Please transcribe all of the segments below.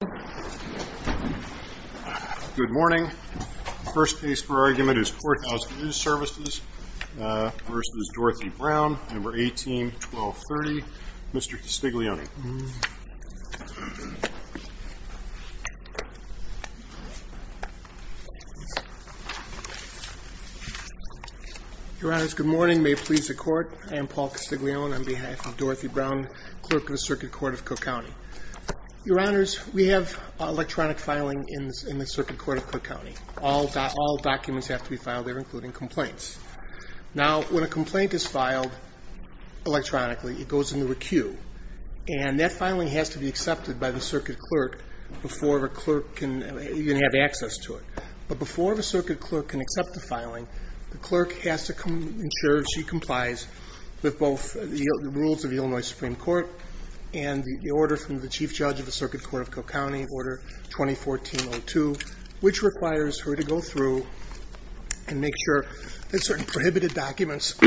Good morning. First case for argument is Courthouse News Services v. Dorothy Brown, No. 18-1230. Mr. Castiglione. Your Honors, good morning. May it please the Court, I am Paul Castiglione on behalf of electronic filing in the Circuit Court of Cook County. All documents have to be filed there, including complaints. Now, when a complaint is filed electronically, it goes into a queue, and that filing has to be accepted by the circuit clerk before a clerk can even have access to it. But before the circuit clerk can accept the filing, the clerk has to ensure she complies with both the rules of the Illinois Supreme Court and the order from the chief judge of the Circuit Court of Cook County, Order 2014-02, which requires her to go through and make sure that certain prohibited documents,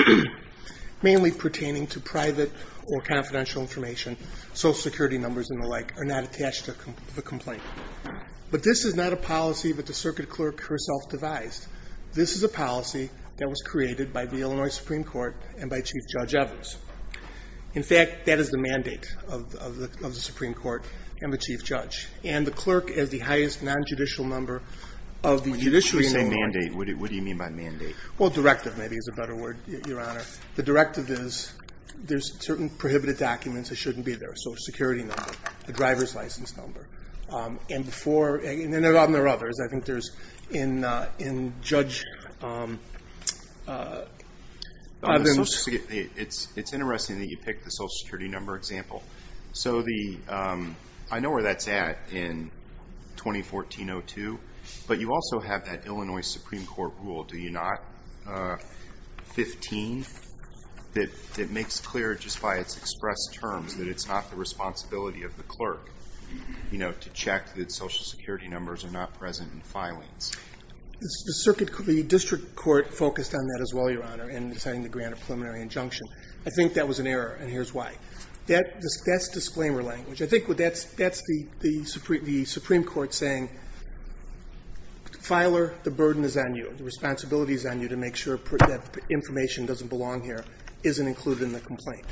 mainly pertaining to private or confidential information, social security numbers and the like, are not attached to the complaint. But this is not a policy that the circuit clerk herself devised. This is a policy that was created by the Illinois Supreme Court and by Chief Judge Evers. In fact, that is the mandate of the Supreme Court and the chief judge. And the clerk is the highest non-judicial number of the judiciary in Illinois. What do you mean by mandate? Well, directive, maybe, is a better word, Your Honor. The directive is, there's certain prohibited documents that shouldn't be there, so a security number, a driver's license number. And before – and there are others. I think there's – in judge court, there's a number of other things that should be there. It's interesting that you picked the social security number example. So the – I know where that's at in 2014-02, but you also have that Illinois Supreme Court rule, do you not, 15, that makes clear just by its expressed terms that it's not the responsibility of the clerk, you know, to check that social security numbers are not present in filings. The circuit – the district court focused on that as well, Your Honor, in deciding to grant a preliminary injunction. I think that was an error, and here's why. That's disclaimer language. I think that's the Supreme Court saying, filer, the burden is on you, the responsibility is on you to make sure that information doesn't belong here, isn't included in the complaint.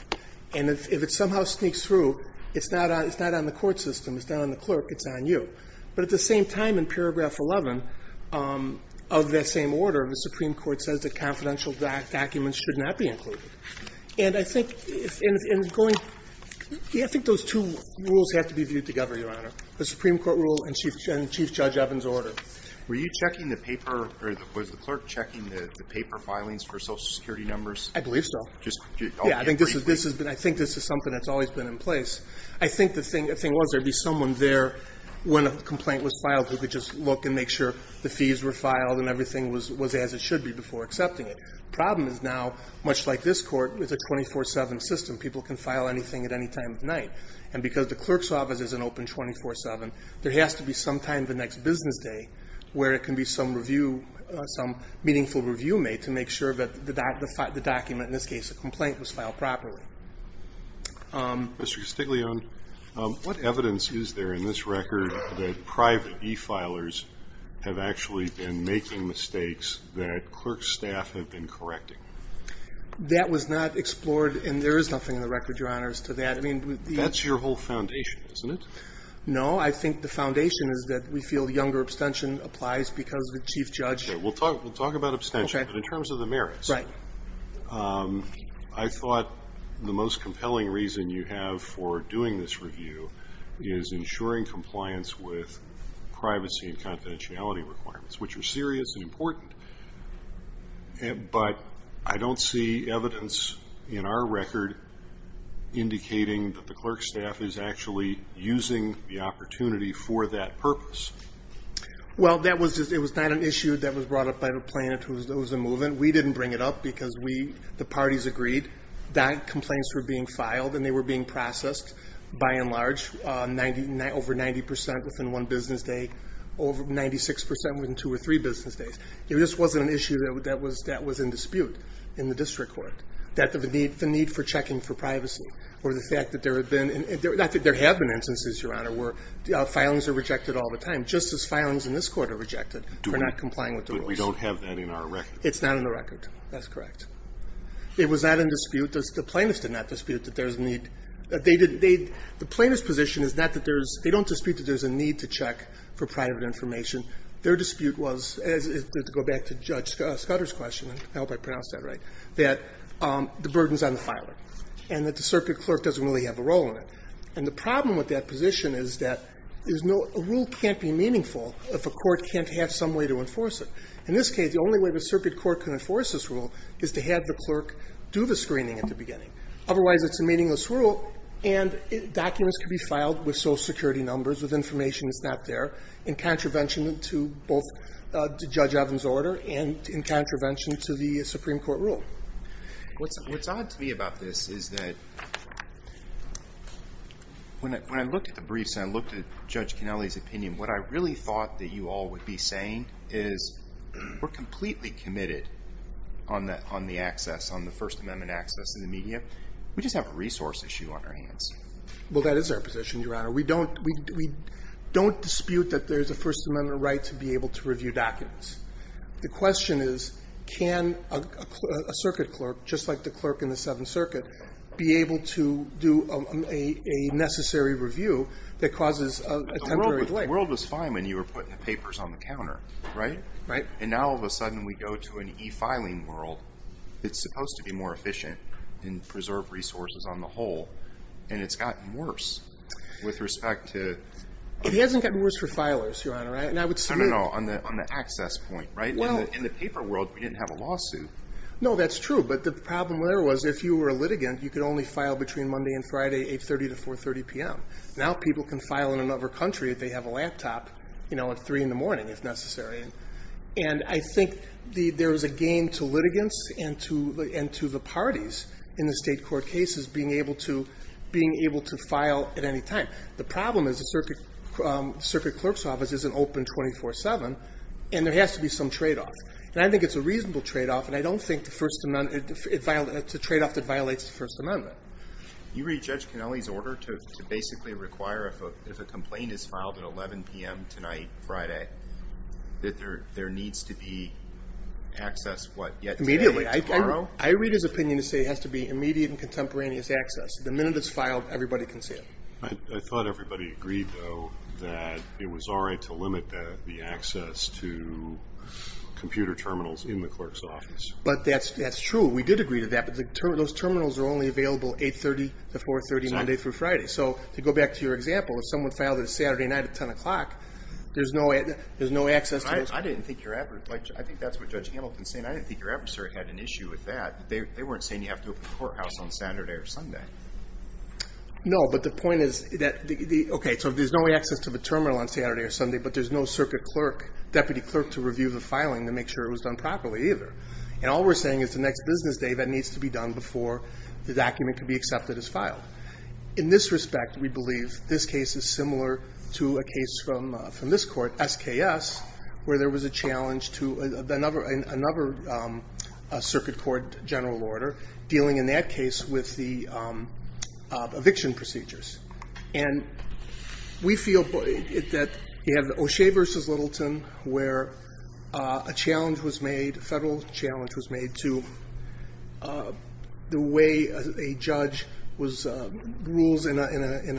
And if it somehow sneaks through, it's not on the court system, it's not on the clerk, it's on you. But at the same time, in paragraph 11 of that same order, the Supreme Court says that confidential documents should not be included. And I think in going – yeah, I think those two rules have to be viewed together, Your Honor, the Supreme Court rule and Chief Judge Evans' order. Were you checking the paper – or was the clerk checking the paper filings for social security numbers? I believe so. Just – Yeah, I think this has been – I think this is something that's always been in place. I think the thing – the thing was, there would be someone there when a complaint was filed who could just look and make sure the fees were filed and everything was as it should be before accepting it. The problem is now, much like this court, it's a 24-7 system. People can file anything at any time of night. And because the clerk's office isn't open 24-7, there has to be some time the next business day where it can be some review – some meaningful review made to make sure that the document, in this case a complaint, was filed properly. Mr. Castiglione, what evidence is there in this record that private e-filers have actually been making mistakes that clerk's staff have been correcting? That was not explored, and there is nothing in the record, Your Honors, to that. I mean, the – That's your whole foundation, isn't it? No, I think the foundation is that we feel younger abstention applies because the chief judge – Okay, we'll talk – we'll talk about abstention. Okay. But in terms of the merits – Right. I thought the most compelling reason you have for doing this review is ensuring compliance with privacy and confidentiality requirements, which are serious and important. But I don't see evidence in our record indicating that the clerk's staff is actually using the opportunity for that purpose. Well, that was just – it was not an issue that was brought up by the plaintiff who was in the movement. We didn't bring it up because we – the parties agreed that complaints were being filed and they were being processed, by and large, over 90 percent within one business day, over 96 percent within two or three business days. It just wasn't an issue that was in dispute in the district court, that the need for checking for privacy or the fact that there had been – not that there have been instances, Your Honor, where filings are rejected all the time. Just as filings in this court are rejected for not complying with the rules. But we don't have that in our record. It's not in the record. That's correct. It was not in dispute. The plaintiffs did not dispute that there's a need – they did – the plaintiff's position is not that there's – they don't dispute that there's a need to check for private information. Their dispute was – to go back to Judge Scudder's question, and I hope I pronounced that right, that the burden's on the filer and that the circuit clerk doesn't really have a role in it. And the problem with that position is that there's no – a rule can't be meaningful if a court can't have some way to enforce it. In this case, the only way the circuit court can enforce this rule is to have the clerk do the screening at the beginning. Otherwise, it's a meaningless rule, and documents can be filed with Social Security numbers, with information that's not there, in contravention to both – to Judge Evans' order and in contravention to the Supreme Court rule. What's odd to me about this is that when I looked at the briefs and I looked at the documents, the only thing that I thought that you all would be saying is we're completely committed on the access, on the First Amendment access to the media. We just have a resource issue on our hands. Well, that is our position, Your Honor. We don't – we don't dispute that there's a First Amendment right to be able to review documents. The question is can a circuit clerk, just like the clerk in the Seventh Circuit, be able to do a necessary review that causes a temporary delay? The world was fine when you were putting the papers on the counter, right? Right. And now all of a sudden we go to an e-filing world that's supposed to be more efficient and preserve resources on the whole, and it's gotten worse with respect to – It hasn't gotten worse for filers, Your Honor. And I would – No, no, no. On the access point, right? Well – In the paper world, we didn't have a lawsuit. No, that's true. But the problem there was if you were a litigant, you could only file between Monday and Friday, 8.30 to 4.30 p.m. Now people can file in another country if they have a laptop, you know, at 3 in the morning if necessary. And I think there is a game to litigants and to the parties in the state court cases being able to – being able to file at any time. The problem is the circuit clerk's office isn't open 24-7, and there has to be some tradeoff. And I think it's a reasonable tradeoff, and I don't think the First Amendment – it's a tradeoff that violates the First Amendment. You read Judge Kennelly's order to basically require if a complaint is filed at 11 p.m. tonight, Friday, that there needs to be access what, yet today, tomorrow? Immediately. I read his opinion to say it has to be immediate and contemporaneous access. The minute it's filed, everybody can see it. I thought everybody agreed, though, that it was all right to limit the access to computer terminals in the clerk's office. But that's true. We did agree to that, but those terminals are only available 8.30 to 4.30 Monday through Friday. So to go back to your example, if someone filed it Saturday night at 10 o'clock, there's no access to those – I didn't think your – I think that's what Judge Hamilton is saying. I didn't think your adversary had an issue with that. They weren't saying you have to open the courthouse on Saturday or Sunday. No, but the point is that – okay, so there's no access to the terminal on Saturday or Sunday, but there's no circuit clerk – deputy clerk to review the filing to make sure it was done properly either. And all we're saying is the next business day, that needs to be done before the document can be accepted as filed. In this respect, we believe this case is similar to a case from this Court, SKS, where there was a challenge to another circuit court general order dealing in that case with the eviction procedures. And we feel that you have the O'Shea v. Littleton, where a challenge was made, a federal challenge was made to the way a judge rules in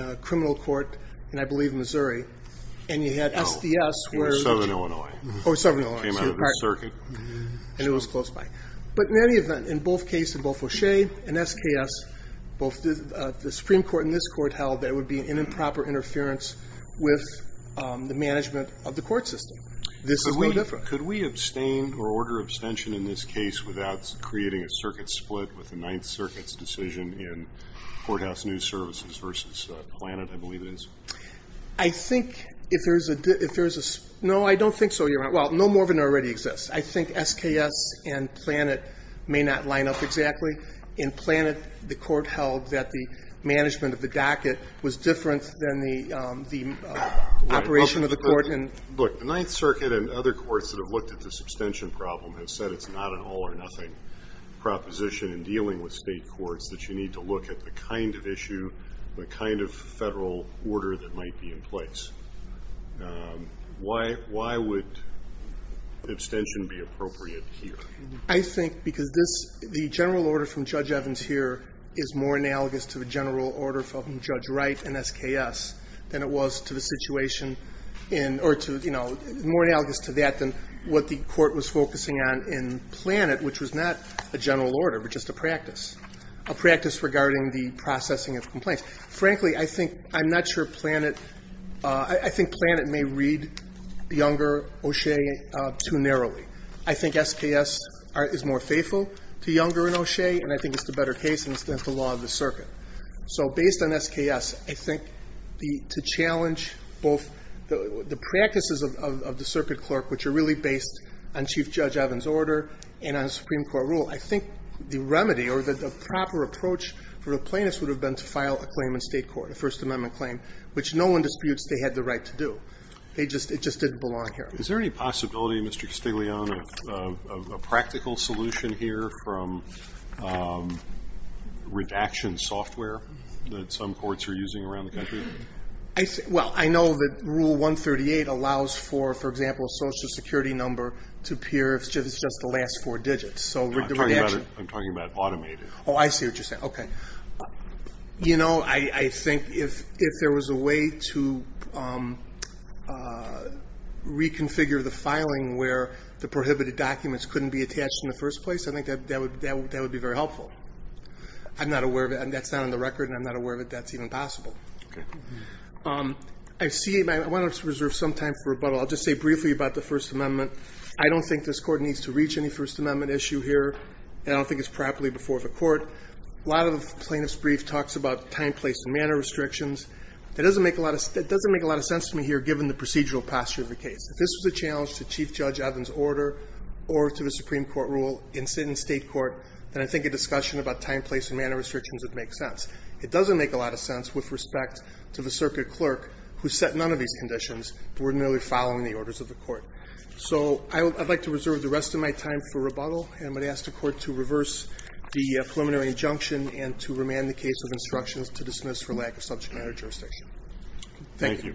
a criminal court in, I believe, Missouri, and you had SDS where – Oh, in southern Illinois. Oh, southern Illinois. Came out of the circuit. And it was close by. But in any event, in both cases, both O'Shea and SKS, both the Supreme Court and this Court held there would be an improper interference with the management of the court system. This is no different. Could we abstain or order abstention in this case without creating a circuit split with the Ninth Circuit's decision in Courthouse News Services v. Planet, I believe it is? I think if there's a – no, I don't think so, Your Honor. Well, no more of it already exists. I think SKS and Planet may not line up exactly. In Planet, the Court held that the management of the docket was different than the operation of the court in – Look, the Ninth Circuit and other courts that have looked at this abstention problem have said it's not an all-or-nothing proposition in dealing with state courts, that you need to look at the kind of issue, the kind of federal order that might be in place. Why would abstention be appropriate here? I think because this – the general order from Judge Evans here is more analogous to the general order from Judge Wright and SKS than it was to the situation in – or to, you know, more analogous to that than what the Court was focusing on in Planet, which was not a general order but just a practice, a practice regarding the processing of complaints. Frankly, I think – I'm not sure Planet – I think Planet may read Younger, O'Shea, too narrowly. I think SKS is more faithful to Younger and O'Shea, and I think it's the better case, and it's the law of the circuit. So based on SKS, I think the – to challenge both the practices of the circuit clerk, which are really based on Chief Judge Evans' order and on a Supreme Court rule, I think the remedy or the proper approach for a plaintiff would have been to file a claim in state court, a First Amendment claim, which no one disputes they had the right to do. They just – it just didn't belong here. Is there any possibility, Mr. Castiglione, of a practical solution here from redaction software that some courts are using around the country? I – well, I know that Rule 138 allows for, for example, a Social Security number to appear if it's just the last four digits. So the redaction – I'm talking about automated. Oh, I see what you're saying. Okay. You know, I think if there was a way to reconfigure the filing where the prohibited documents couldn't be attached in the first place, I think that would be very helpful. I'm not aware of it. That's not on the record, and I'm not aware of it. That's even possible. Okay. I see – I want to reserve some time for rebuttal. I'll just say briefly about the First Amendment. I don't think this Court needs to reach any First Amendment issue here. I don't think it's properly before the Court. A lot of the plaintiff's brief talks about time, place, and manner restrictions. That doesn't make a lot of – that doesn't make a lot of sense to me here, given the procedural posture of the case. If this was a challenge to Chief Judge Evans' order or to the Supreme Court rule in the State court, then I think a discussion about time, place, and manner restrictions would make sense. It doesn't make a lot of sense with respect to the circuit clerk who set none of these conditions, but we're merely following the orders of the Court. So I would – I'd like to reserve the rest of my time for rebuttal. I'm going to ask the Court to reverse the preliminary injunction and to remand the case of instructions to dismiss for lack of subject matter jurisdiction. Thank you.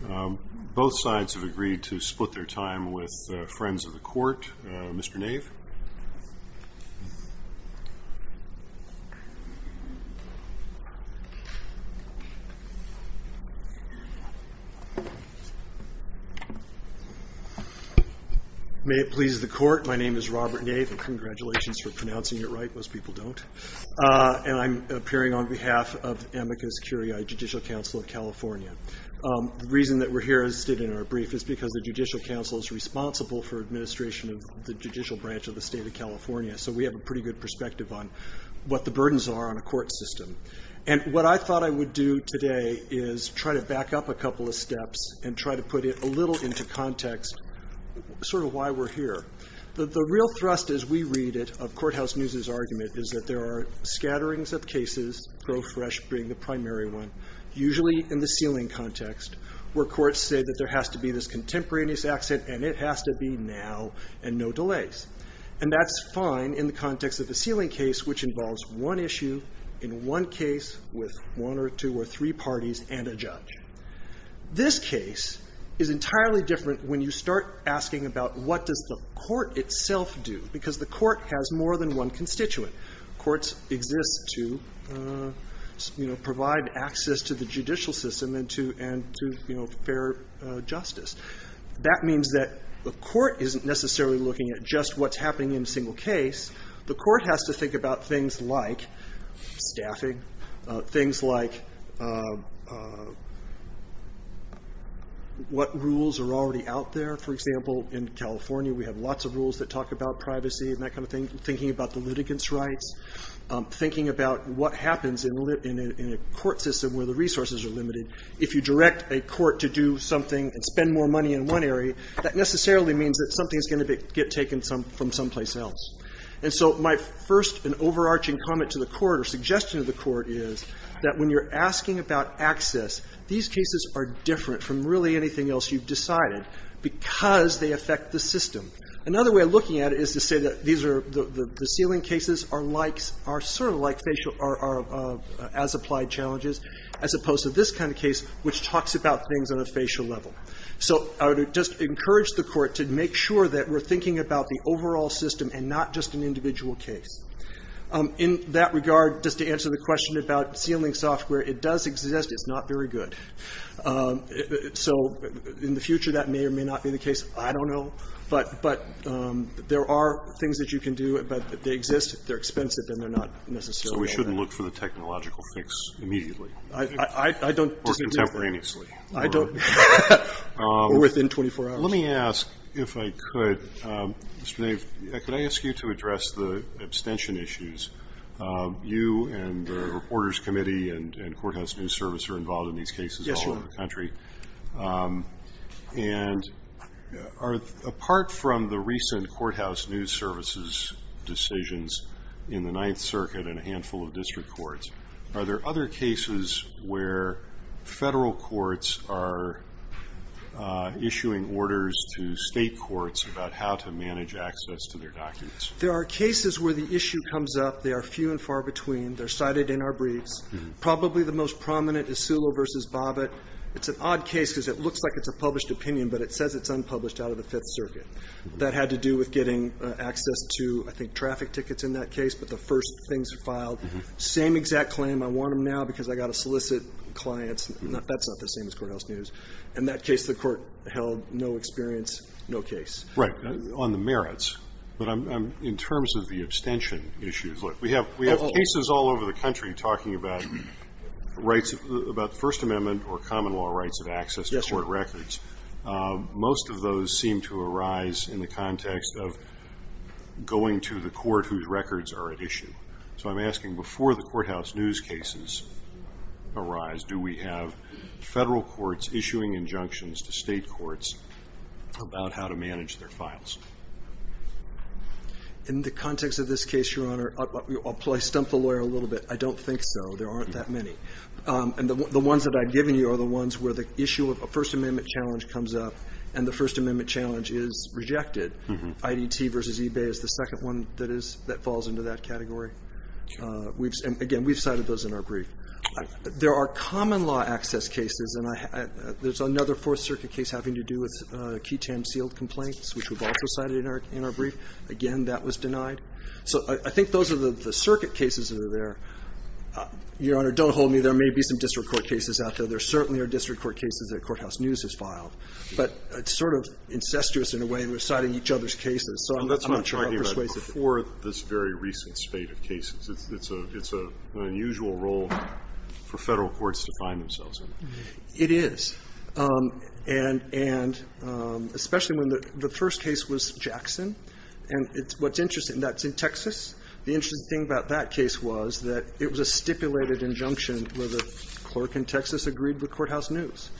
Thank you. Both sides have agreed to split their time with friends of the Court. Mr. Nave? May it please the Court. My name is Robert Nave, and congratulations for pronouncing it right. Most people don't. And I'm appearing on behalf of Amicus Curiae Judicial Council of California. The reason that we're here as did in our brief is because the Judicial Council is responsible for administration of the judicial branch of the state of California, so we have a pretty good perspective on what the burdens are on a court system. And what I thought I would do today is try to back up a couple of steps and try to put it a little into context, sort of why we're here. The real thrust as we read it of Courthouse News' argument is that there are scatterings of cases, Grow Fresh being the primary one, usually in the sealing context, where courts say that there has to be this contemporaneous accident and it has to be now and no delays. And that's fine in the context of a sealing case, which involves one issue in one case with one or two or three parties and a judge. This case is entirely different when you start asking about what does the court itself do, because the court has more than one constituent. Courts exist to provide access to the judicial system and to fair justice. That means that the court isn't necessarily looking at just what's happening in a single case. The court has to think about things like staffing, things like what rules are already out there, for example, in California we have lots of rules that talk about privacy and that kind of thing, thinking about the litigants' rights, thinking about what happens in a court system where the resources are limited. If you direct a court to do something and spend more money in one area, that necessarily means that something's going to get taken from someplace else. And so my first and overarching comment to the court or suggestion to the court is that when you're asking about access, these cases are different from really anything else you've decided, because they affect the system. Another way of looking at it is to say that the sealing cases are sort of like as-applied challenges, as opposed to this kind of case, which talks about things on a facial level. So I would just encourage the court to make sure that we're thinking about the overall system and not just an individual case. In that regard, just to answer the question about sealing software, it does exist. It's not very good. So in the future, that may or may not be the case. I don't know. But there are things that you can do, but they exist. They're expensive, and they're not necessarily all that. So we shouldn't look for the technological fix immediately? I don't disagree. Or contemporaneously? Or within 24 hours? Let me ask, if I could, Mr. Nave, could I ask you to address the abstention issues? You and the Reporters Committee and Courthouse News Service are involved in these cases all over the country. Yes, Your Honor. And apart from the recent Courthouse News Service's decisions in the Ninth Circuit and a handful of district courts, are there other cases where federal courts are issuing orders to state courts about how to manage access to their documents? There are cases where the issue comes up. They are few and far between. They're cited in our briefs. Probably the most prominent is Sulo v. Bobbitt. It's an odd case because it looks like it's a published opinion, but it says it's unpublished out of the Fifth Circuit. That had to do with getting access to, I think, traffic tickets in that case, but the first things are filed. Same exact claim. I want them now because I've got to solicit clients. That's not the same as Courthouse News. In that case, the court held no experience, no case. Right. On the merits, in terms of the abstention issues, we have cases all over the country talking about First Amendment or common law rights of access to court records. Most of those seem to arise in the context of going to the court whose records are at issue. So I'm asking, before the Courthouse News cases arise, do we have federal courts issuing injunctions to state courts about how to manage their files? In the context of this case, Your Honor, I'll stump the lawyer a little bit. I don't think so. There aren't that many. The ones that I've given you are the ones where the issue of a First Amendment challenge comes up and the First Amendment challenge is rejected. IDT versus eBay is the second one that falls into that category. Again, we've cited those in our brief. There are common law access cases, and there's another Fourth Circuit case having to do with key tam seal complaints, which we've also cited in our brief. Again, that was denied. So I think those are the Circuit cases that are there. Your Honor, don't hold me. There may be some District Court cases out there. There certainly are District Court cases that Courthouse News has filed. But it's sort of incestuous, in a way, in reciting each other's cases. So I'm not sure how persuasive it is. Well, that's what I'm talking about. Before this very recent spate of cases, it's an unusual role for federal courts to find themselves in. It is. And especially when the first case was Jackson. And what's interesting, that's in Texas. The interesting thing about that case was that it was a stipulated injunction where the clerk in Texas agreed with Courthouse News.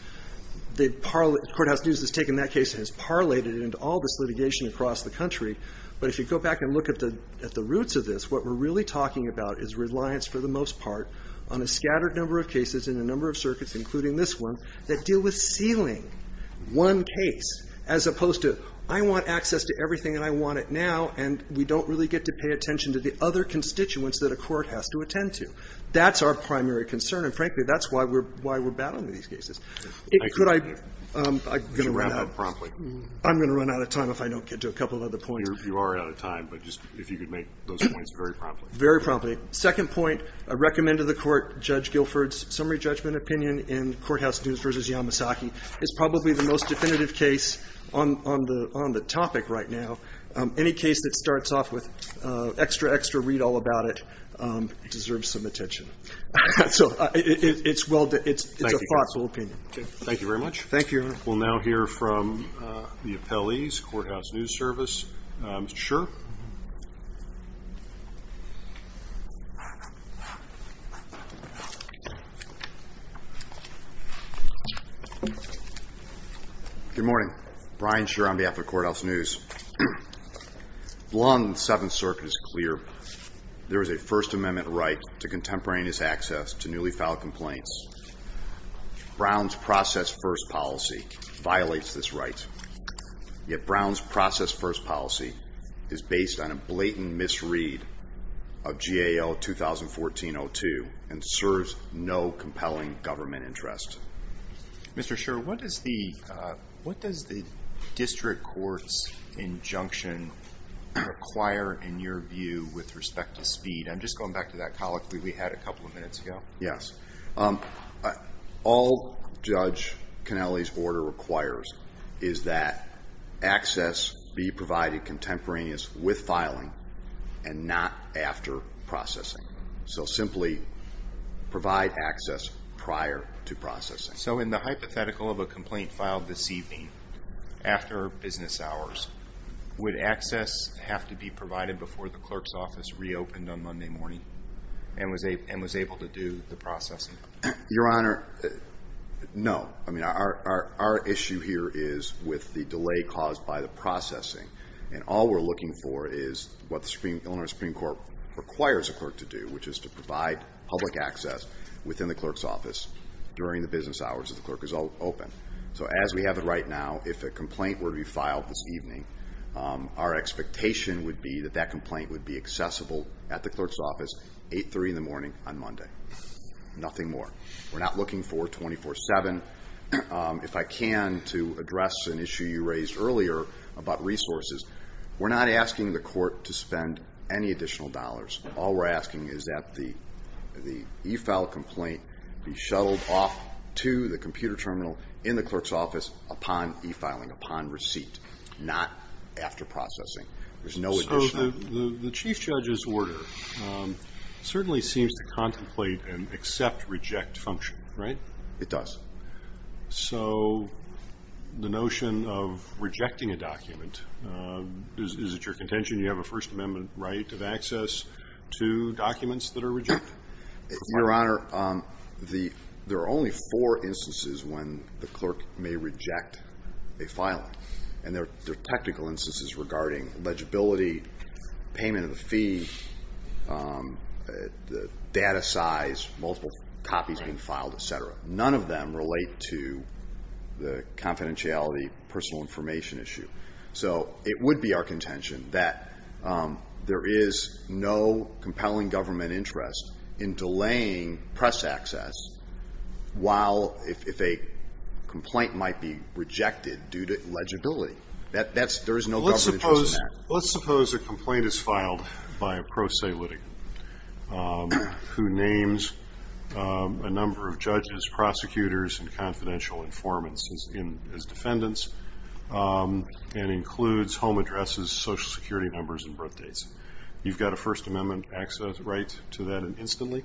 Courthouse News has taken that case and has parlayed it into all this litigation across the country. But if you go back and look at the roots of this, what we're really talking about is reliance, for the most part, on a scattered number of cases and a number of circuits, including this one, that deal with sealing one case, as opposed to, I want access to everything and I want it now and we don't really get to pay attention to the other constituents that a court has to attend to. That's our primary concern. And frankly, that's why we're battling these cases. Could I? I'm going to run out. You should wrap up promptly. I'm going to run out of time if I don't get to a couple of other points. You are out of time. But just, if you could make those points very promptly. Very promptly. Second point, I recommend to the Court, Judge Guilford's summary judgment opinion in Courthouse News v. Yamasaki is probably the most definitive case on the topic right now. Any case that starts off with extra, extra read-all about it deserves some attention. So, it's a thoughtful opinion. Thank you very much. Thank you, Your Honor. We'll now hear from the appellees, Courthouse News Service. Mr. Scher? Good morning. Brian Scher on behalf of Courthouse News. Long as the Seventh Circuit is clear, there is a First Amendment right to contemporaneous access to newly filed complaints. Brown's process-first policy violates this right. Yet Brown's process-first policy and serves as a pretext for the Court's decision to revoke this right. It serves no compelling government interest. Mr. Scher, what does the District Court's injunction require in your view with respect to speed? I'm just going back to that colloquy we had a couple of minutes ago. Yes. All Judge Kennelly's order requires is that access be provided contemporaneous with filing and not after processing. So simply provide access prior to processing. So in the hypothetical of a complaint filed this evening, after business hours, would access have to be provided before the clerk's office reopened on Monday morning and was able to do the processing? Your Honor, no. Our issue here is with the delay caused by the processing. And all we're looking for is what the Illinois Supreme Court requires a clerk to do, which is to provide public access within the clerk's office during the business hours if the clerk is open. So as we have it right now, if a complaint were to be filed this evening, our expectation would be that that complaint would be accessible at the clerk's office 8-3 in the morning on Monday. Nothing more. We're not looking for 24-7. If I can to address an issue you raised earlier about resources, we're not asking the court to spend any additional dollars. All we're asking is that the e-file complaint be shuttled off to the computer terminal in the clerk's office upon e-filing, upon receipt. Not after processing. There's no additional. So the Chief Judge's order certainly seems to contemplate and accept-reject function, right? It does. So the notion of rejecting a document, is it your contention you have a First Amendment right of access to documents that are rejected? Your Honor, there are only four instances when the clerk may reject a filing. There are technical instances regarding legibility, payment of the fee, data size, multiple copies being filed, etc. None of them relate to the confidentiality, personal information issue. So it would be our contention that there is no compelling government interest in delaying press access while, if a complaint might be rejected due to legibility. Let's suppose a complaint is filed by a pro se litigant who names a number of judges, prosecutors and confidential informants as defendants and includes home addresses, social security numbers and birthdates. You've got a First Amendment access right to that instantly?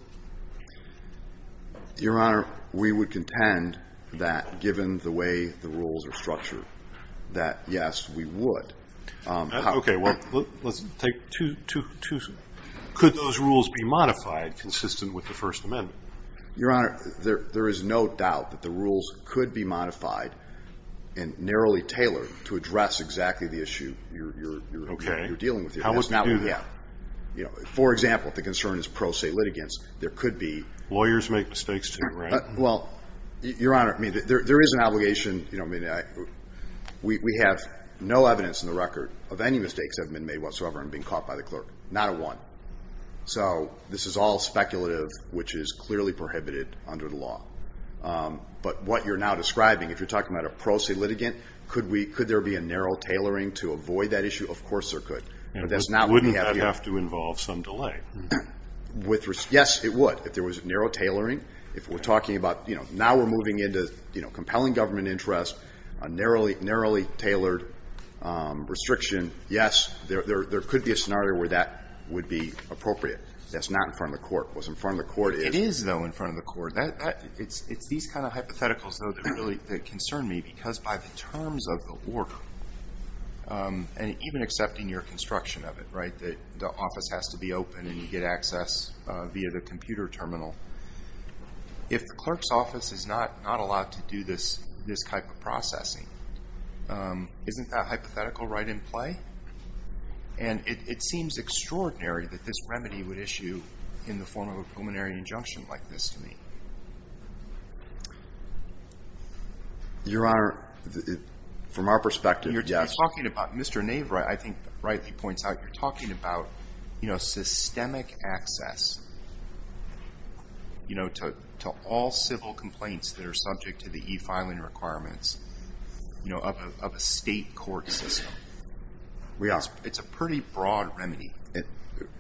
Your Honor, we would contend that given the way the rules are structured that yes, we would. Okay, well let's take two Could those rules be modified consistent with the First Amendment? Your Honor, there is no doubt that the rules could be modified and narrowly tailored to address exactly the issue you're dealing with. For example, if the concern is pro se litigants, there could be Lawyers make mistakes too, right? Your Honor, there is an obligation We have no evidence in the record of any mistakes that have been made whatsoever in being caught by the clerk. Not a one. So this is all speculative which is clearly prohibited under the law. But what you're now describing, if you're talking about a pro se litigant could there be a narrow tailoring to avoid that issue? Of course there could. Wouldn't that have to involve some delay? Yes, it would. If there was narrow tailoring Now we're moving into compelling government interests a narrowly tailored restriction Yes, there could be a scenario where that would be appropriate. That's not in front of the court. It is, though, in front of the court. It's these kind of hypotheticals that concern me because by the terms of the work and even accepting your construction of it, right? The office has to be open and you get access via the computer terminal If the clerk's office is not allowed to do this type of processing isn't that hypothetical right in play? And it seems extraordinary that this remedy would issue in the form of a preliminary injunction like this to me. Your Honor from our perspective Mr. Naver, I think rightly points out you're talking about systemic access to all civil complaints that are subject to the e-filing requirements of a state court system It's a pretty broad remedy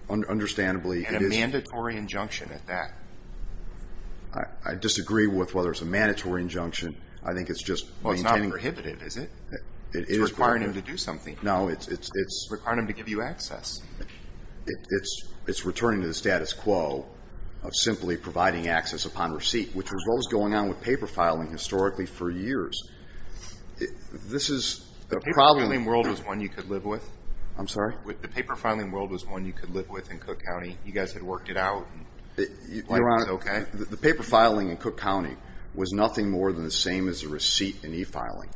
Understandably And a mandatory injunction at that I disagree with whether it's a mandatory injunction I think it's just It's not prohibitive, is it? It's requiring them to do something It's requiring them to give you access It's returning to the status quo of simply providing access upon receipt which was what was going on with paper filing historically for years This is The paper filing world is one you could live with I'm sorry? The paper filing world is one you could live with in Cook County You guys had worked it out Your Honor The paper filing in Cook County was nothing more than the same as a receipt in e-filing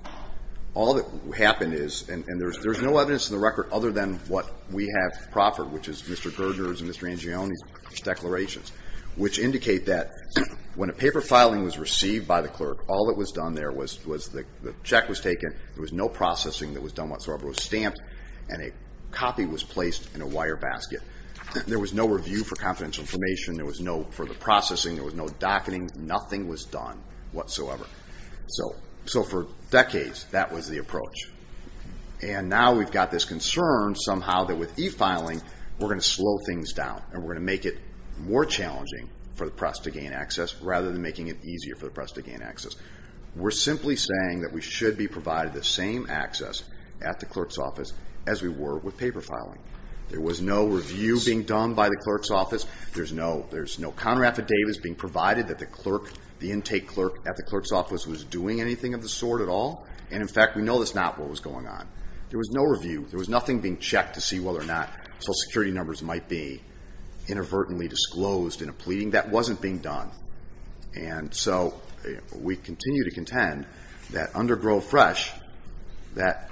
All that happened is and there's no evidence in the record other than what we have proper which is Mr. Gerdner's and Mr. Angione's declarations which indicate that when a paper filing was received by the clerk all that was done there was the check was taken there was no processing that was done whatsoever it was stamped and a copy was placed in a wire basket there was no review for confidential information there was no for the processing there was no docketing nothing was done whatsoever So for decades that was the approach and now we've got this concern somehow that with e-filing we're going to slow things down and we're going to make it more challenging for the press to gain access rather than making it easier for the press to gain access We're simply saying that we should be provided the same access at the clerk's office as we were with paper filing There was no review being done by the clerk's office There's no counter affidavits being provided that the clerk the intake clerk at the clerk's office was doing anything of the sort at all and in fact we know that's not what was going on There was no review, there was nothing being checked to see whether or not social security numbers might be inadvertently disclosed in a pleading that wasn't being done and so we continue to contend that under Grove Fresh that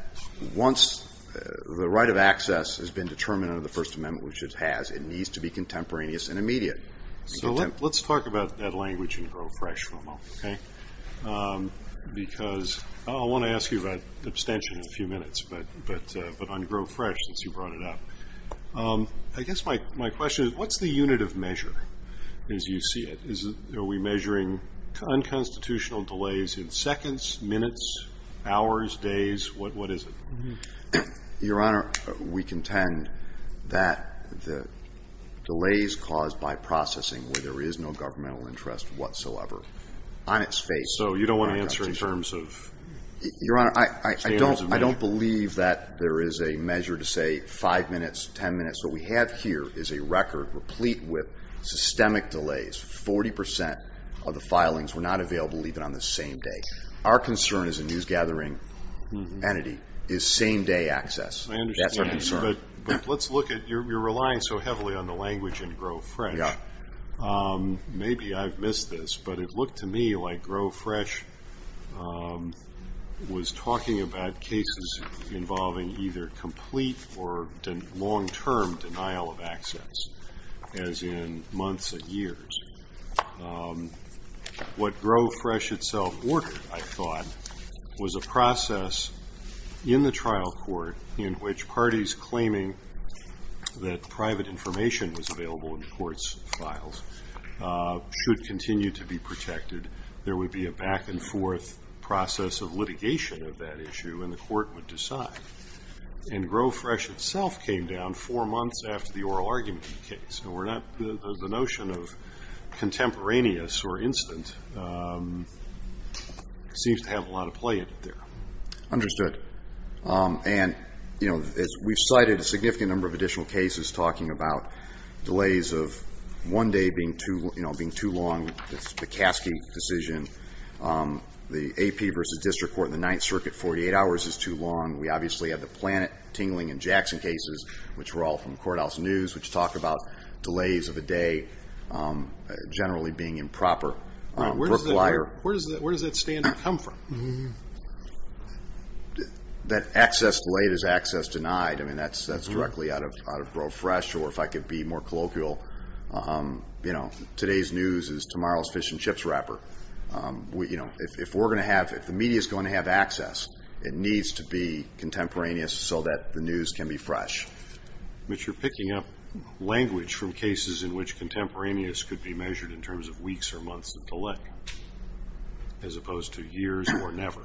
once the right of access has been determined under the First Amendment which it has, it needs to be contemporaneous and immediate So let's talk about that language in Grove Fresh for a moment because I want to ask you about abstention in a few minutes but on Grove Fresh since you brought it up I guess my question is what's the unit of measure as you see it? Are we measuring unconstitutional delays in seconds, minutes, hours days, what is it? Your Honor, we contend that delays caused by processing where there is no governmental interest whatsoever So you don't want to answer in terms of Your Honor, I don't believe that there is a measure to say five minutes, ten minutes What we have here is a record replete with systemic delays 40% of the filings were not available even on the same day Our concern as a news gathering entity is same day access That's our concern But let's look at, you're relying so heavily on the language in Grove Fresh Maybe I've missed this but it looked to me like Grove Fresh was talking about cases involving either complete or long-term denial of access as in months and years What Grove Fresh itself ordered, I thought was a process in the trial court in which parties claiming that private information was available in the court's files should continue to be protected. There would be a back and forth process of litigation of that issue and the court would decide And Grove Fresh itself came down four months after the oral argument case. The notion of contemporaneous or instant seems to have a lot of play in it there. Understood And, you know we've cited a significant number of additional cases talking about delays of one day being too long, the Caskey decision The AP versus district court in the 9th circuit 48 hours is too long. We obviously have the Planet, Tingling and Jackson cases which were all from Courthouse News which talk about delays of a day generally being improper Where does that standard come from? That access delayed is access denied That's directly out of Grove Fresh or if I could be more colloquial you know, today's news is tomorrow's fish and chips wrapper If we're going to have If the media is going to have access it needs to be contemporaneous so that the news can be fresh But you're picking up language from cases in which contemporaneous could be measured in terms of weeks or months of delay as opposed to years or never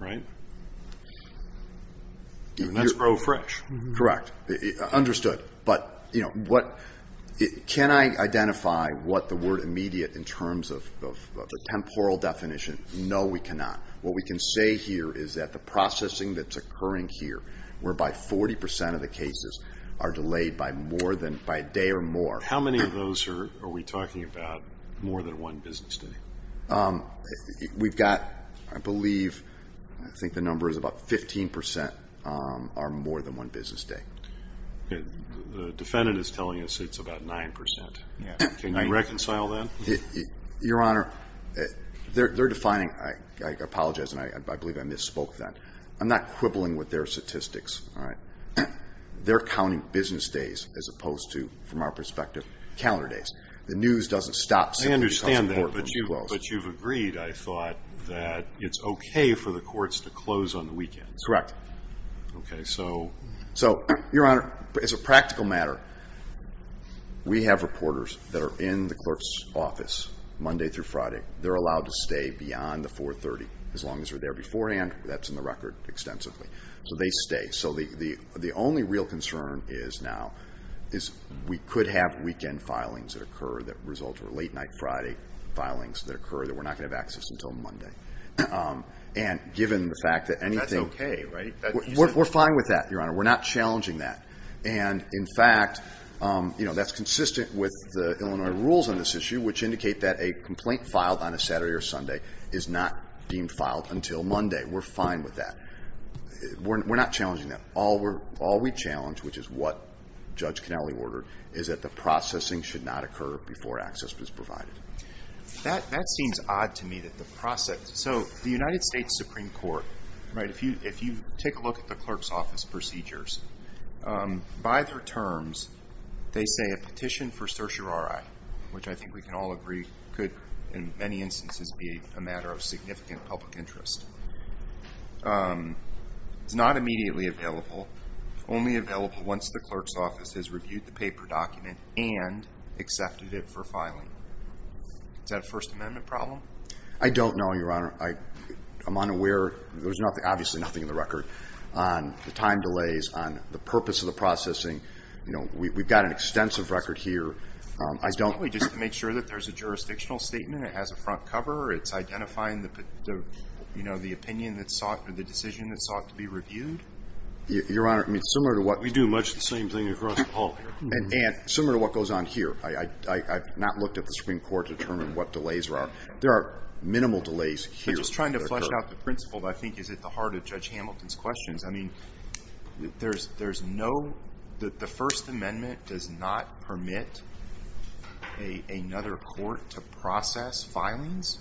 Right? And that's Grove Fresh Correct. Understood But you know Can I identify what the word immediate in terms of the temporal definition? No we cannot. What we can say here is that the processing that's occurring here whereby 40% of the cases are delayed by more than by a day or more How many of those are we talking about more than one business day? We've got, I believe I think the number is about 15% are more than one business day The defendant is telling us it's about 9% Can you reconcile that? Your Honor They're defining, I apologize and I believe I misspoke then I'm not quibbling with their statistics They're counting business days as opposed to, from our perspective calendar days. The news doesn't stop until it becomes important But you've agreed, I thought that it's okay for the courts to close on the weekends Correct. So Your Honor, as a practical matter we have reporters that are in the clerk's office Monday through Friday. They're allowed to stay beyond the 430 as long as they're there beforehand, that's in the record extensively So they stay. So the only real concern is now is we could have weekend filings that occur that result or late night Friday filings that occur that we're not going to have access until Monday And given the fact that That's okay, right? We're fine with that, Your Honor. We're not challenging that And in fact That's consistent with the Illinois rules on this issue, which indicate that a complaint filed on a Saturday or Sunday is not being filed until Monday. We're fine with that We're not challenging that All we challenge, which is what Judge Connelly ordered, is that the processing should not occur before access is provided. That seems odd to me that the process So the United States Supreme Court If you take a look at the clerk's office procedures By their terms they say a petition for certiorari which I think we can all agree could in many instances be a matter of significant public interest It's not immediately available Only available once the clerk's office has reviewed the paper document and accepted it for filing Is that a First Amendment problem? I don't know, Your Honor I'm unaware There's obviously nothing in the record on the time delays on the purpose of the processing We've got an extensive record here It's probably just to make sure that there's a jurisdictional statement It has a front cover It's identifying the decision that sought to be reviewed We do much the same thing across the hall Similar to what goes on here I've not looked at the Supreme Court to determine what delays there are There are minimal delays here I think it's at the heart of Judge Hamilton's questions There's no The First Amendment does not permit another court to process filings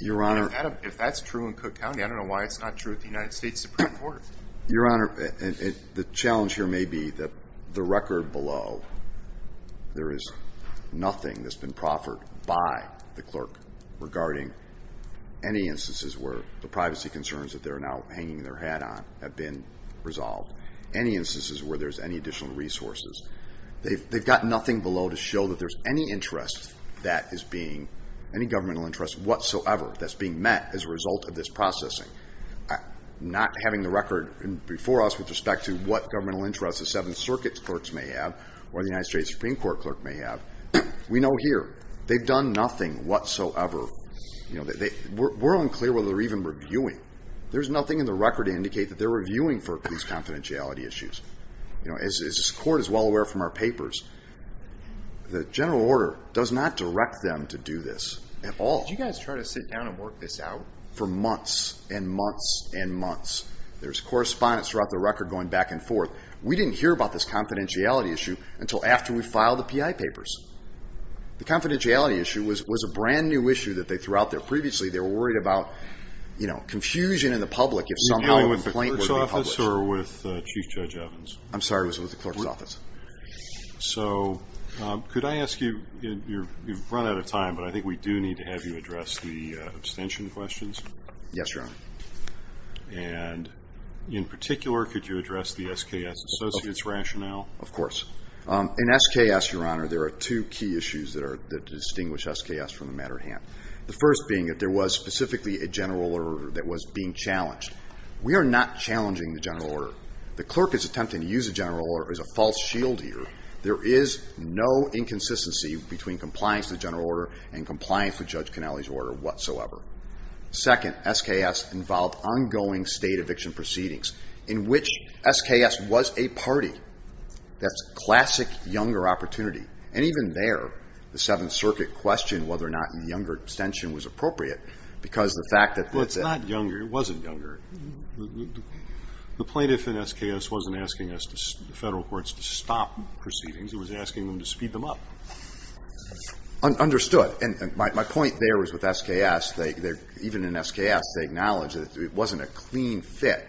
Your Honor If that's true in Cook County, I don't know why it's not true in the United States Supreme Court The challenge here may be the record below there is nothing that's been proffered by the clerk regarding any that they're now hanging their hat on have been resolved Any instances where there's any additional resources They've got nothing below to show that there's any interest that is being, any governmental interest whatsoever that's being met as a result of this processing Not having the record before us with respect to what governmental interests the Seventh Circuit clerks may have or the United States Supreme Court clerk may have We know here, they've done nothing whatsoever We're unclear whether they're even reviewing There's nothing in the record to indicate that they're reviewing for these confidentiality issues As this court is well aware from our papers The General Order does not direct them to do this at all Did you guys try to sit down and work this out? For months and months and months There's correspondence throughout the record going back and forth We didn't hear about this confidentiality issue until after we filed the PI papers The confidentiality issue was a brand new issue that they threw out there previously They were worried about confusion in the public if somehow a complaint would be published With the clerk's office or with Chief Judge Evans? I'm sorry, it was with the clerk's office So, could I ask you You've run out of time but I think we do need to have you address the abstention questions Yes, Your Honor In particular, could you address the SKS associates rationale? Of course In SKS, Your Honor, there are two key issues that distinguish SKS from the matter at hand The first being that there was specifically a General Order that was being challenged We are not challenging the General Order The clerk is attempting to use the General Order as a false shield here There is no inconsistency between compliance with the General Order and compliance with Judge Canelli's order whatsoever Second, SKS involved ongoing state eviction proceedings in which SKS was a party That's classic younger opportunity And even there, the Seventh Circuit questioned whether or not younger abstention was appropriate Well, it's not younger, it wasn't younger The plaintiff in SKS wasn't asking us, the federal courts to stop proceedings He was asking them to speed them up Understood My point there is with SKS Even in SKS, they acknowledge that it wasn't a clean fit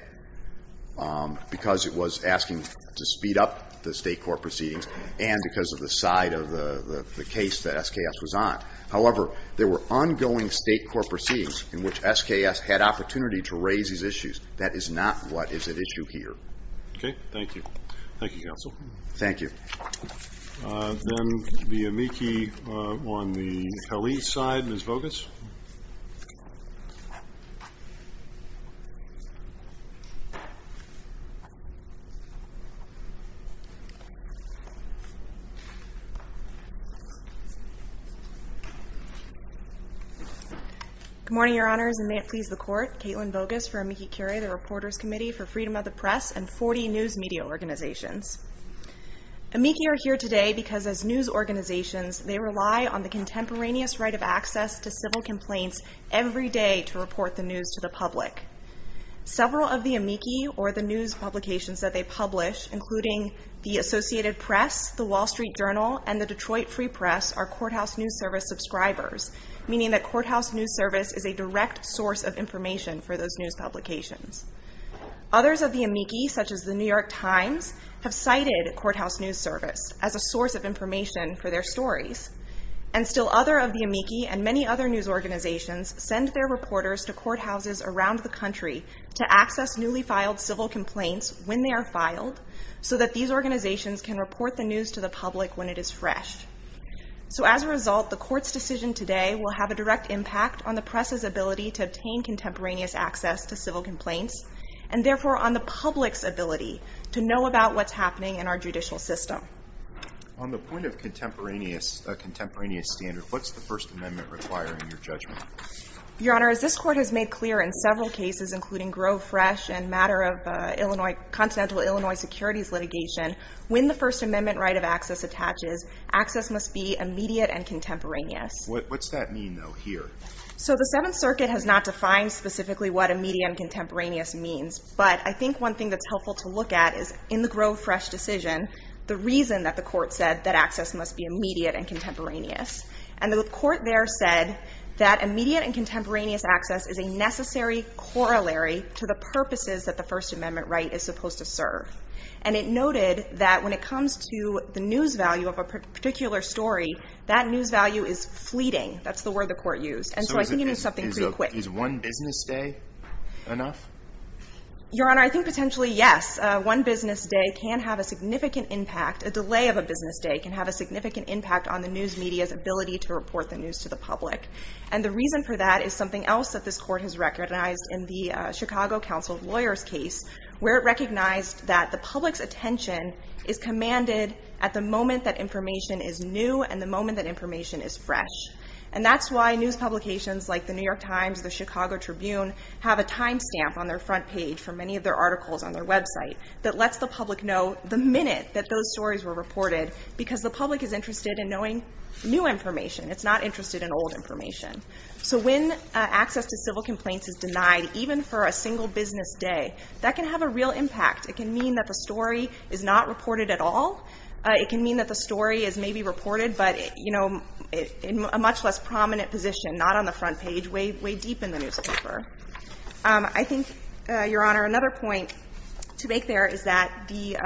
because it was asking to speed up the state court proceedings and because of the side of the case that SKS was on However, there were ongoing state court proceedings in which SKS had opportunity to raise these issues That is not what is at issue here Thank you Thank you Then the amici on the police side Ms. Voges Good morning, your honors and may it please the court Caitlin Voges for amici curia the reporters committee for freedom of the press and 40 news media organizations Amici are here today because as news organizations they rely on the contemporaneous right of access to civil complaints every day to report the news to the public or the news publications that they publish including the Associated Press the Associated Press the Wall Street Journal and the Detroit Free Press are Courthouse News Service subscribers meaning that Courthouse News Service is a direct source of information for those news publications Others of the amici, such as the New York Times have cited Courthouse News Service as a source of information for their stories and still other of the amici and many other news organizations send their reporters to courthouses around the country to access newly filed civil complaints when they are filed so that these organizations can report the news to the public when it is fresh so as a result the court's decision today will have a direct impact on the press' ability to obtain contemporaneous access to civil complaints and therefore on the public's ability to know about what's happening in our judicial system On the point of contemporaneous standard, what's the first amendment requiring in your judgment? Your honor, as this court has made clear in several cases, including Grove Fresh and the matter of Continental Illinois securities litigation when the first amendment right of access attaches access must be immediate and contemporaneous What's that mean though, here? So the 7th Circuit has not defined specifically what immediate and contemporaneous means, but I think one thing that's helpful to look at is in the Grove Fresh decision, the reason that the court said that access must be immediate and contemporaneous and the court there said that immediate and contemporaneous access is a necessary corollary to the purposes that the first amendment right is supposed to serve and it noted that when it comes to the news value of a particular story, that news value is fleeting, that's the word the court used and so I think it means something pretty quick Is one business day enough? Your honor, I think potentially yes one business day can have a significant impact, a delay of a business day can have a significant impact on the news media's ability to report the news to the public and the reason for that is something else that this court has recognized in the Chicago Council of Lawyers case where it recognized that the public's attention is commanded at the moment that information is new and the moment that information is fresh and that's why news publications like the New York Times, the Chicago Tribune have a time stamp on their front page for many of their articles on their website that lets the public know the minute that those stories were reported because the public is interested in knowing new information, it's not interested in old information. So when access to civil complaints is denied even for a single business day that can have a real impact, it can mean that the story is not reported at all it can mean that the story is maybe reported but you know in a much less prominent position, not on the front page, way deep in the newspaper I think your honor, another point to make there is that the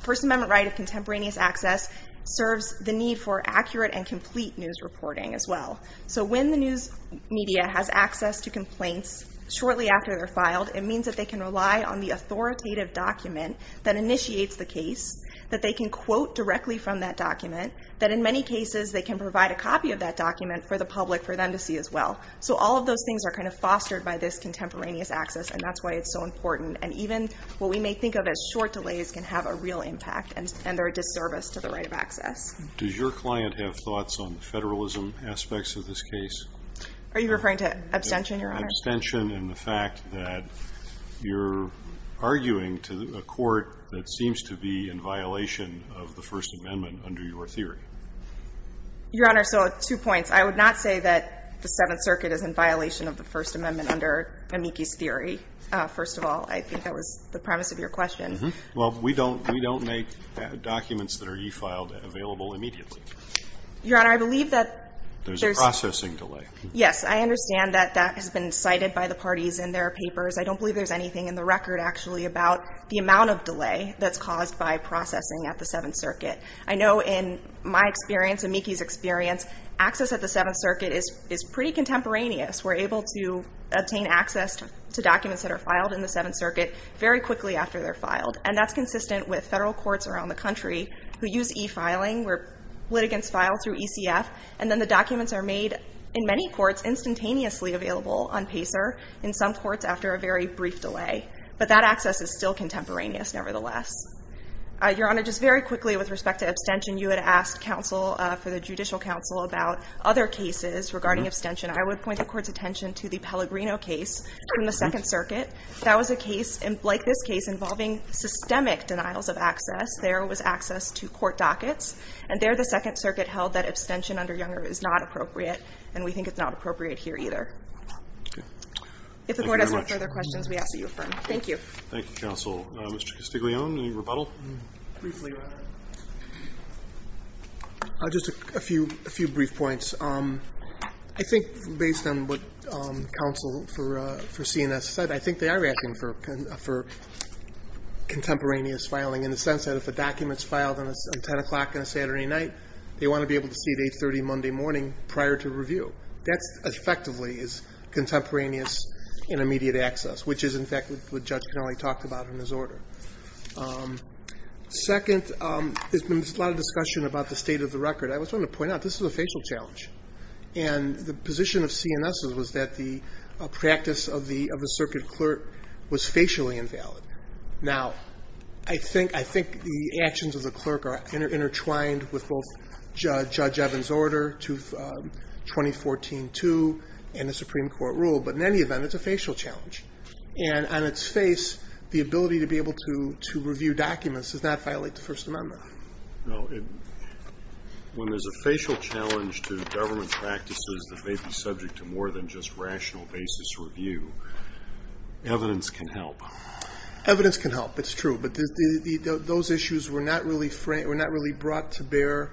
First Amendment right of contemporaneous access serves the need for accurate and complete news reporting as well so when the news media has access to complaints shortly after they're filed, it means that they can rely on the authoritative document that initiates the case, that they can quote directly from that document that in many cases they can provide a copy of that document for the public for them to see as well so all of those things are kind of fostered by this contemporaneous access and that's why it's so important and even what we may think of as short delays can have a real impact and they're a disservice to the right of access. Does your client have thoughts on the federalism aspects of this case? Are you referring to abstention your honor? Abstention and the fact that you're arguing to a court that seems to be in violation of the First Amendment under your theory Your honor so two points, I would not say that the Seventh Circuit is in violation of the First Amendment under Amici's theory first of all, I think that was the premise of your question. Well we don't we don't make documents that are e-filed available immediately Your honor, I believe that there's a processing delay. Yes, I understand that that has been cited by the parties in their papers. I don't believe there's anything in the record actually about the amount of delay that's caused by processing at the Seventh Circuit. I know in my experience, Amici's experience access at the Seventh Circuit is pretty contemporaneous. We're able to obtain access to documents that are filed in the Seventh Circuit very quickly after they're filed and that's consistent with federal courts around the country who use e-filing where litigants file through ECF and then the documents are made in many courts instantaneously available on PACER in some courts after a very brief delay but that access is still contemporaneous nevertheless Your honor, just very quickly with respect to abstention, you had asked counsel, for the judicial counsel, about other cases regarding abstention I would point the court's attention to the Pellegrino case from the Second Circuit that was a case, like this case, involving systemic denials of access there was access to court dockets and there the Second Circuit held that abstention under Younger is not appropriate and we think it's not appropriate here either If the court has no further questions, we ask that you affirm. Thank you Thank you, counsel. Mr. Castiglione, any rebuttal? Just a few brief points. I think based on what counsel for CNS said, I think they are asking for contemporaneous filing in the sense that if a document's filed on 10 o'clock on a Saturday night, they want to be able to see it 8.30 Monday morning prior to review. That's effectively contemporaneous and immediate access, which is in fact what Judge Canelli talked about in his order Second, there's been a lot of discussion about the state of the record. I just want to point out, this is a facial challenge and the position of CNS's was that the practice of the Circuit Clerk was facially invalid. Now, I think the actions of the Clerk are intertwined with both Judge Evans' order to 2014-2 and the Supreme Court rule, but in any event, it's a facial challenge and on its face the ability to be able to review documents does not violate the First Amendment When there's a facial challenge to government practices that may be subject to more than just rational basis review, evidence can help. Evidence can help it's true, but those issues were not really brought to bear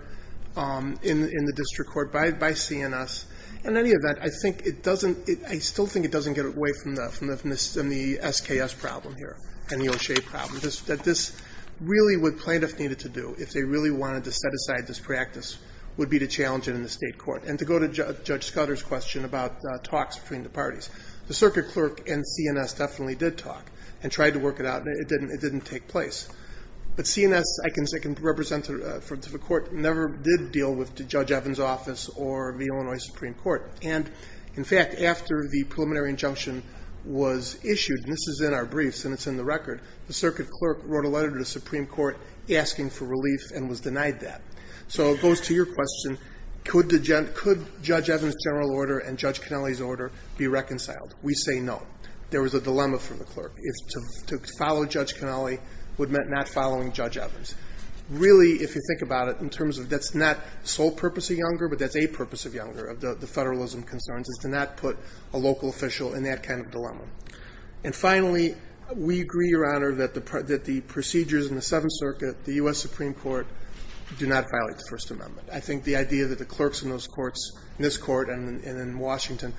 in the District Court by CNS In any event, I think it doesn't I still think it doesn't get away from the SKS problem here and the O'Shea problem, that this really what plaintiffs needed to do if they really wanted to set aside this practice would be to challenge it in the State Court and to go to Judge Scudder's question about talks between the parties The Circuit Clerk and CNS definitely did talk and tried to work it out, and it didn't take place. But CNS I can represent to the Court never did deal with Judge Evans' office or the Illinois Supreme Court and, in fact, after the preliminary injunction was issued, and this is in our briefs and it's in the record the Circuit Clerk wrote a letter to the Supreme Court asking for relief and was denied that. So it goes to your question, could Judge Evans' general order and Judge Cannelli's order be reconciled? We say no. There was a dilemma for the Clerk To follow Judge Cannelli would mean not following Judge Evans Really, if you think about it, in terms of that's not sole purpose of Younger but that's a purpose of Younger, of the federalism concerns, is to not put a local official in that kind of dilemma And finally, we agree, Your Honor that the procedures in the Illinois Supreme Court do not violate the First Amendment. I think the idea that the Clerks in those courts, in this Court and in Washington,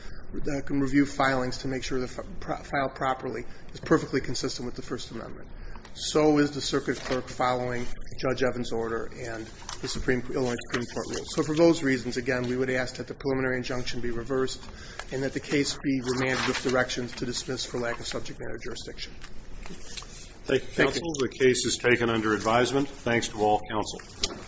can review filings to make sure they're filed properly is perfectly consistent with the First Amendment So is the Circuit Clerk following Judge Evans' order and the Illinois Supreme Court rules So for those reasons, again, we would ask that the preliminary injunction be reversed and that the case be remanded with directions to dismiss for lack of subject matter jurisdiction Thank you, counsel The case is taken under advisement Thanks to all counsel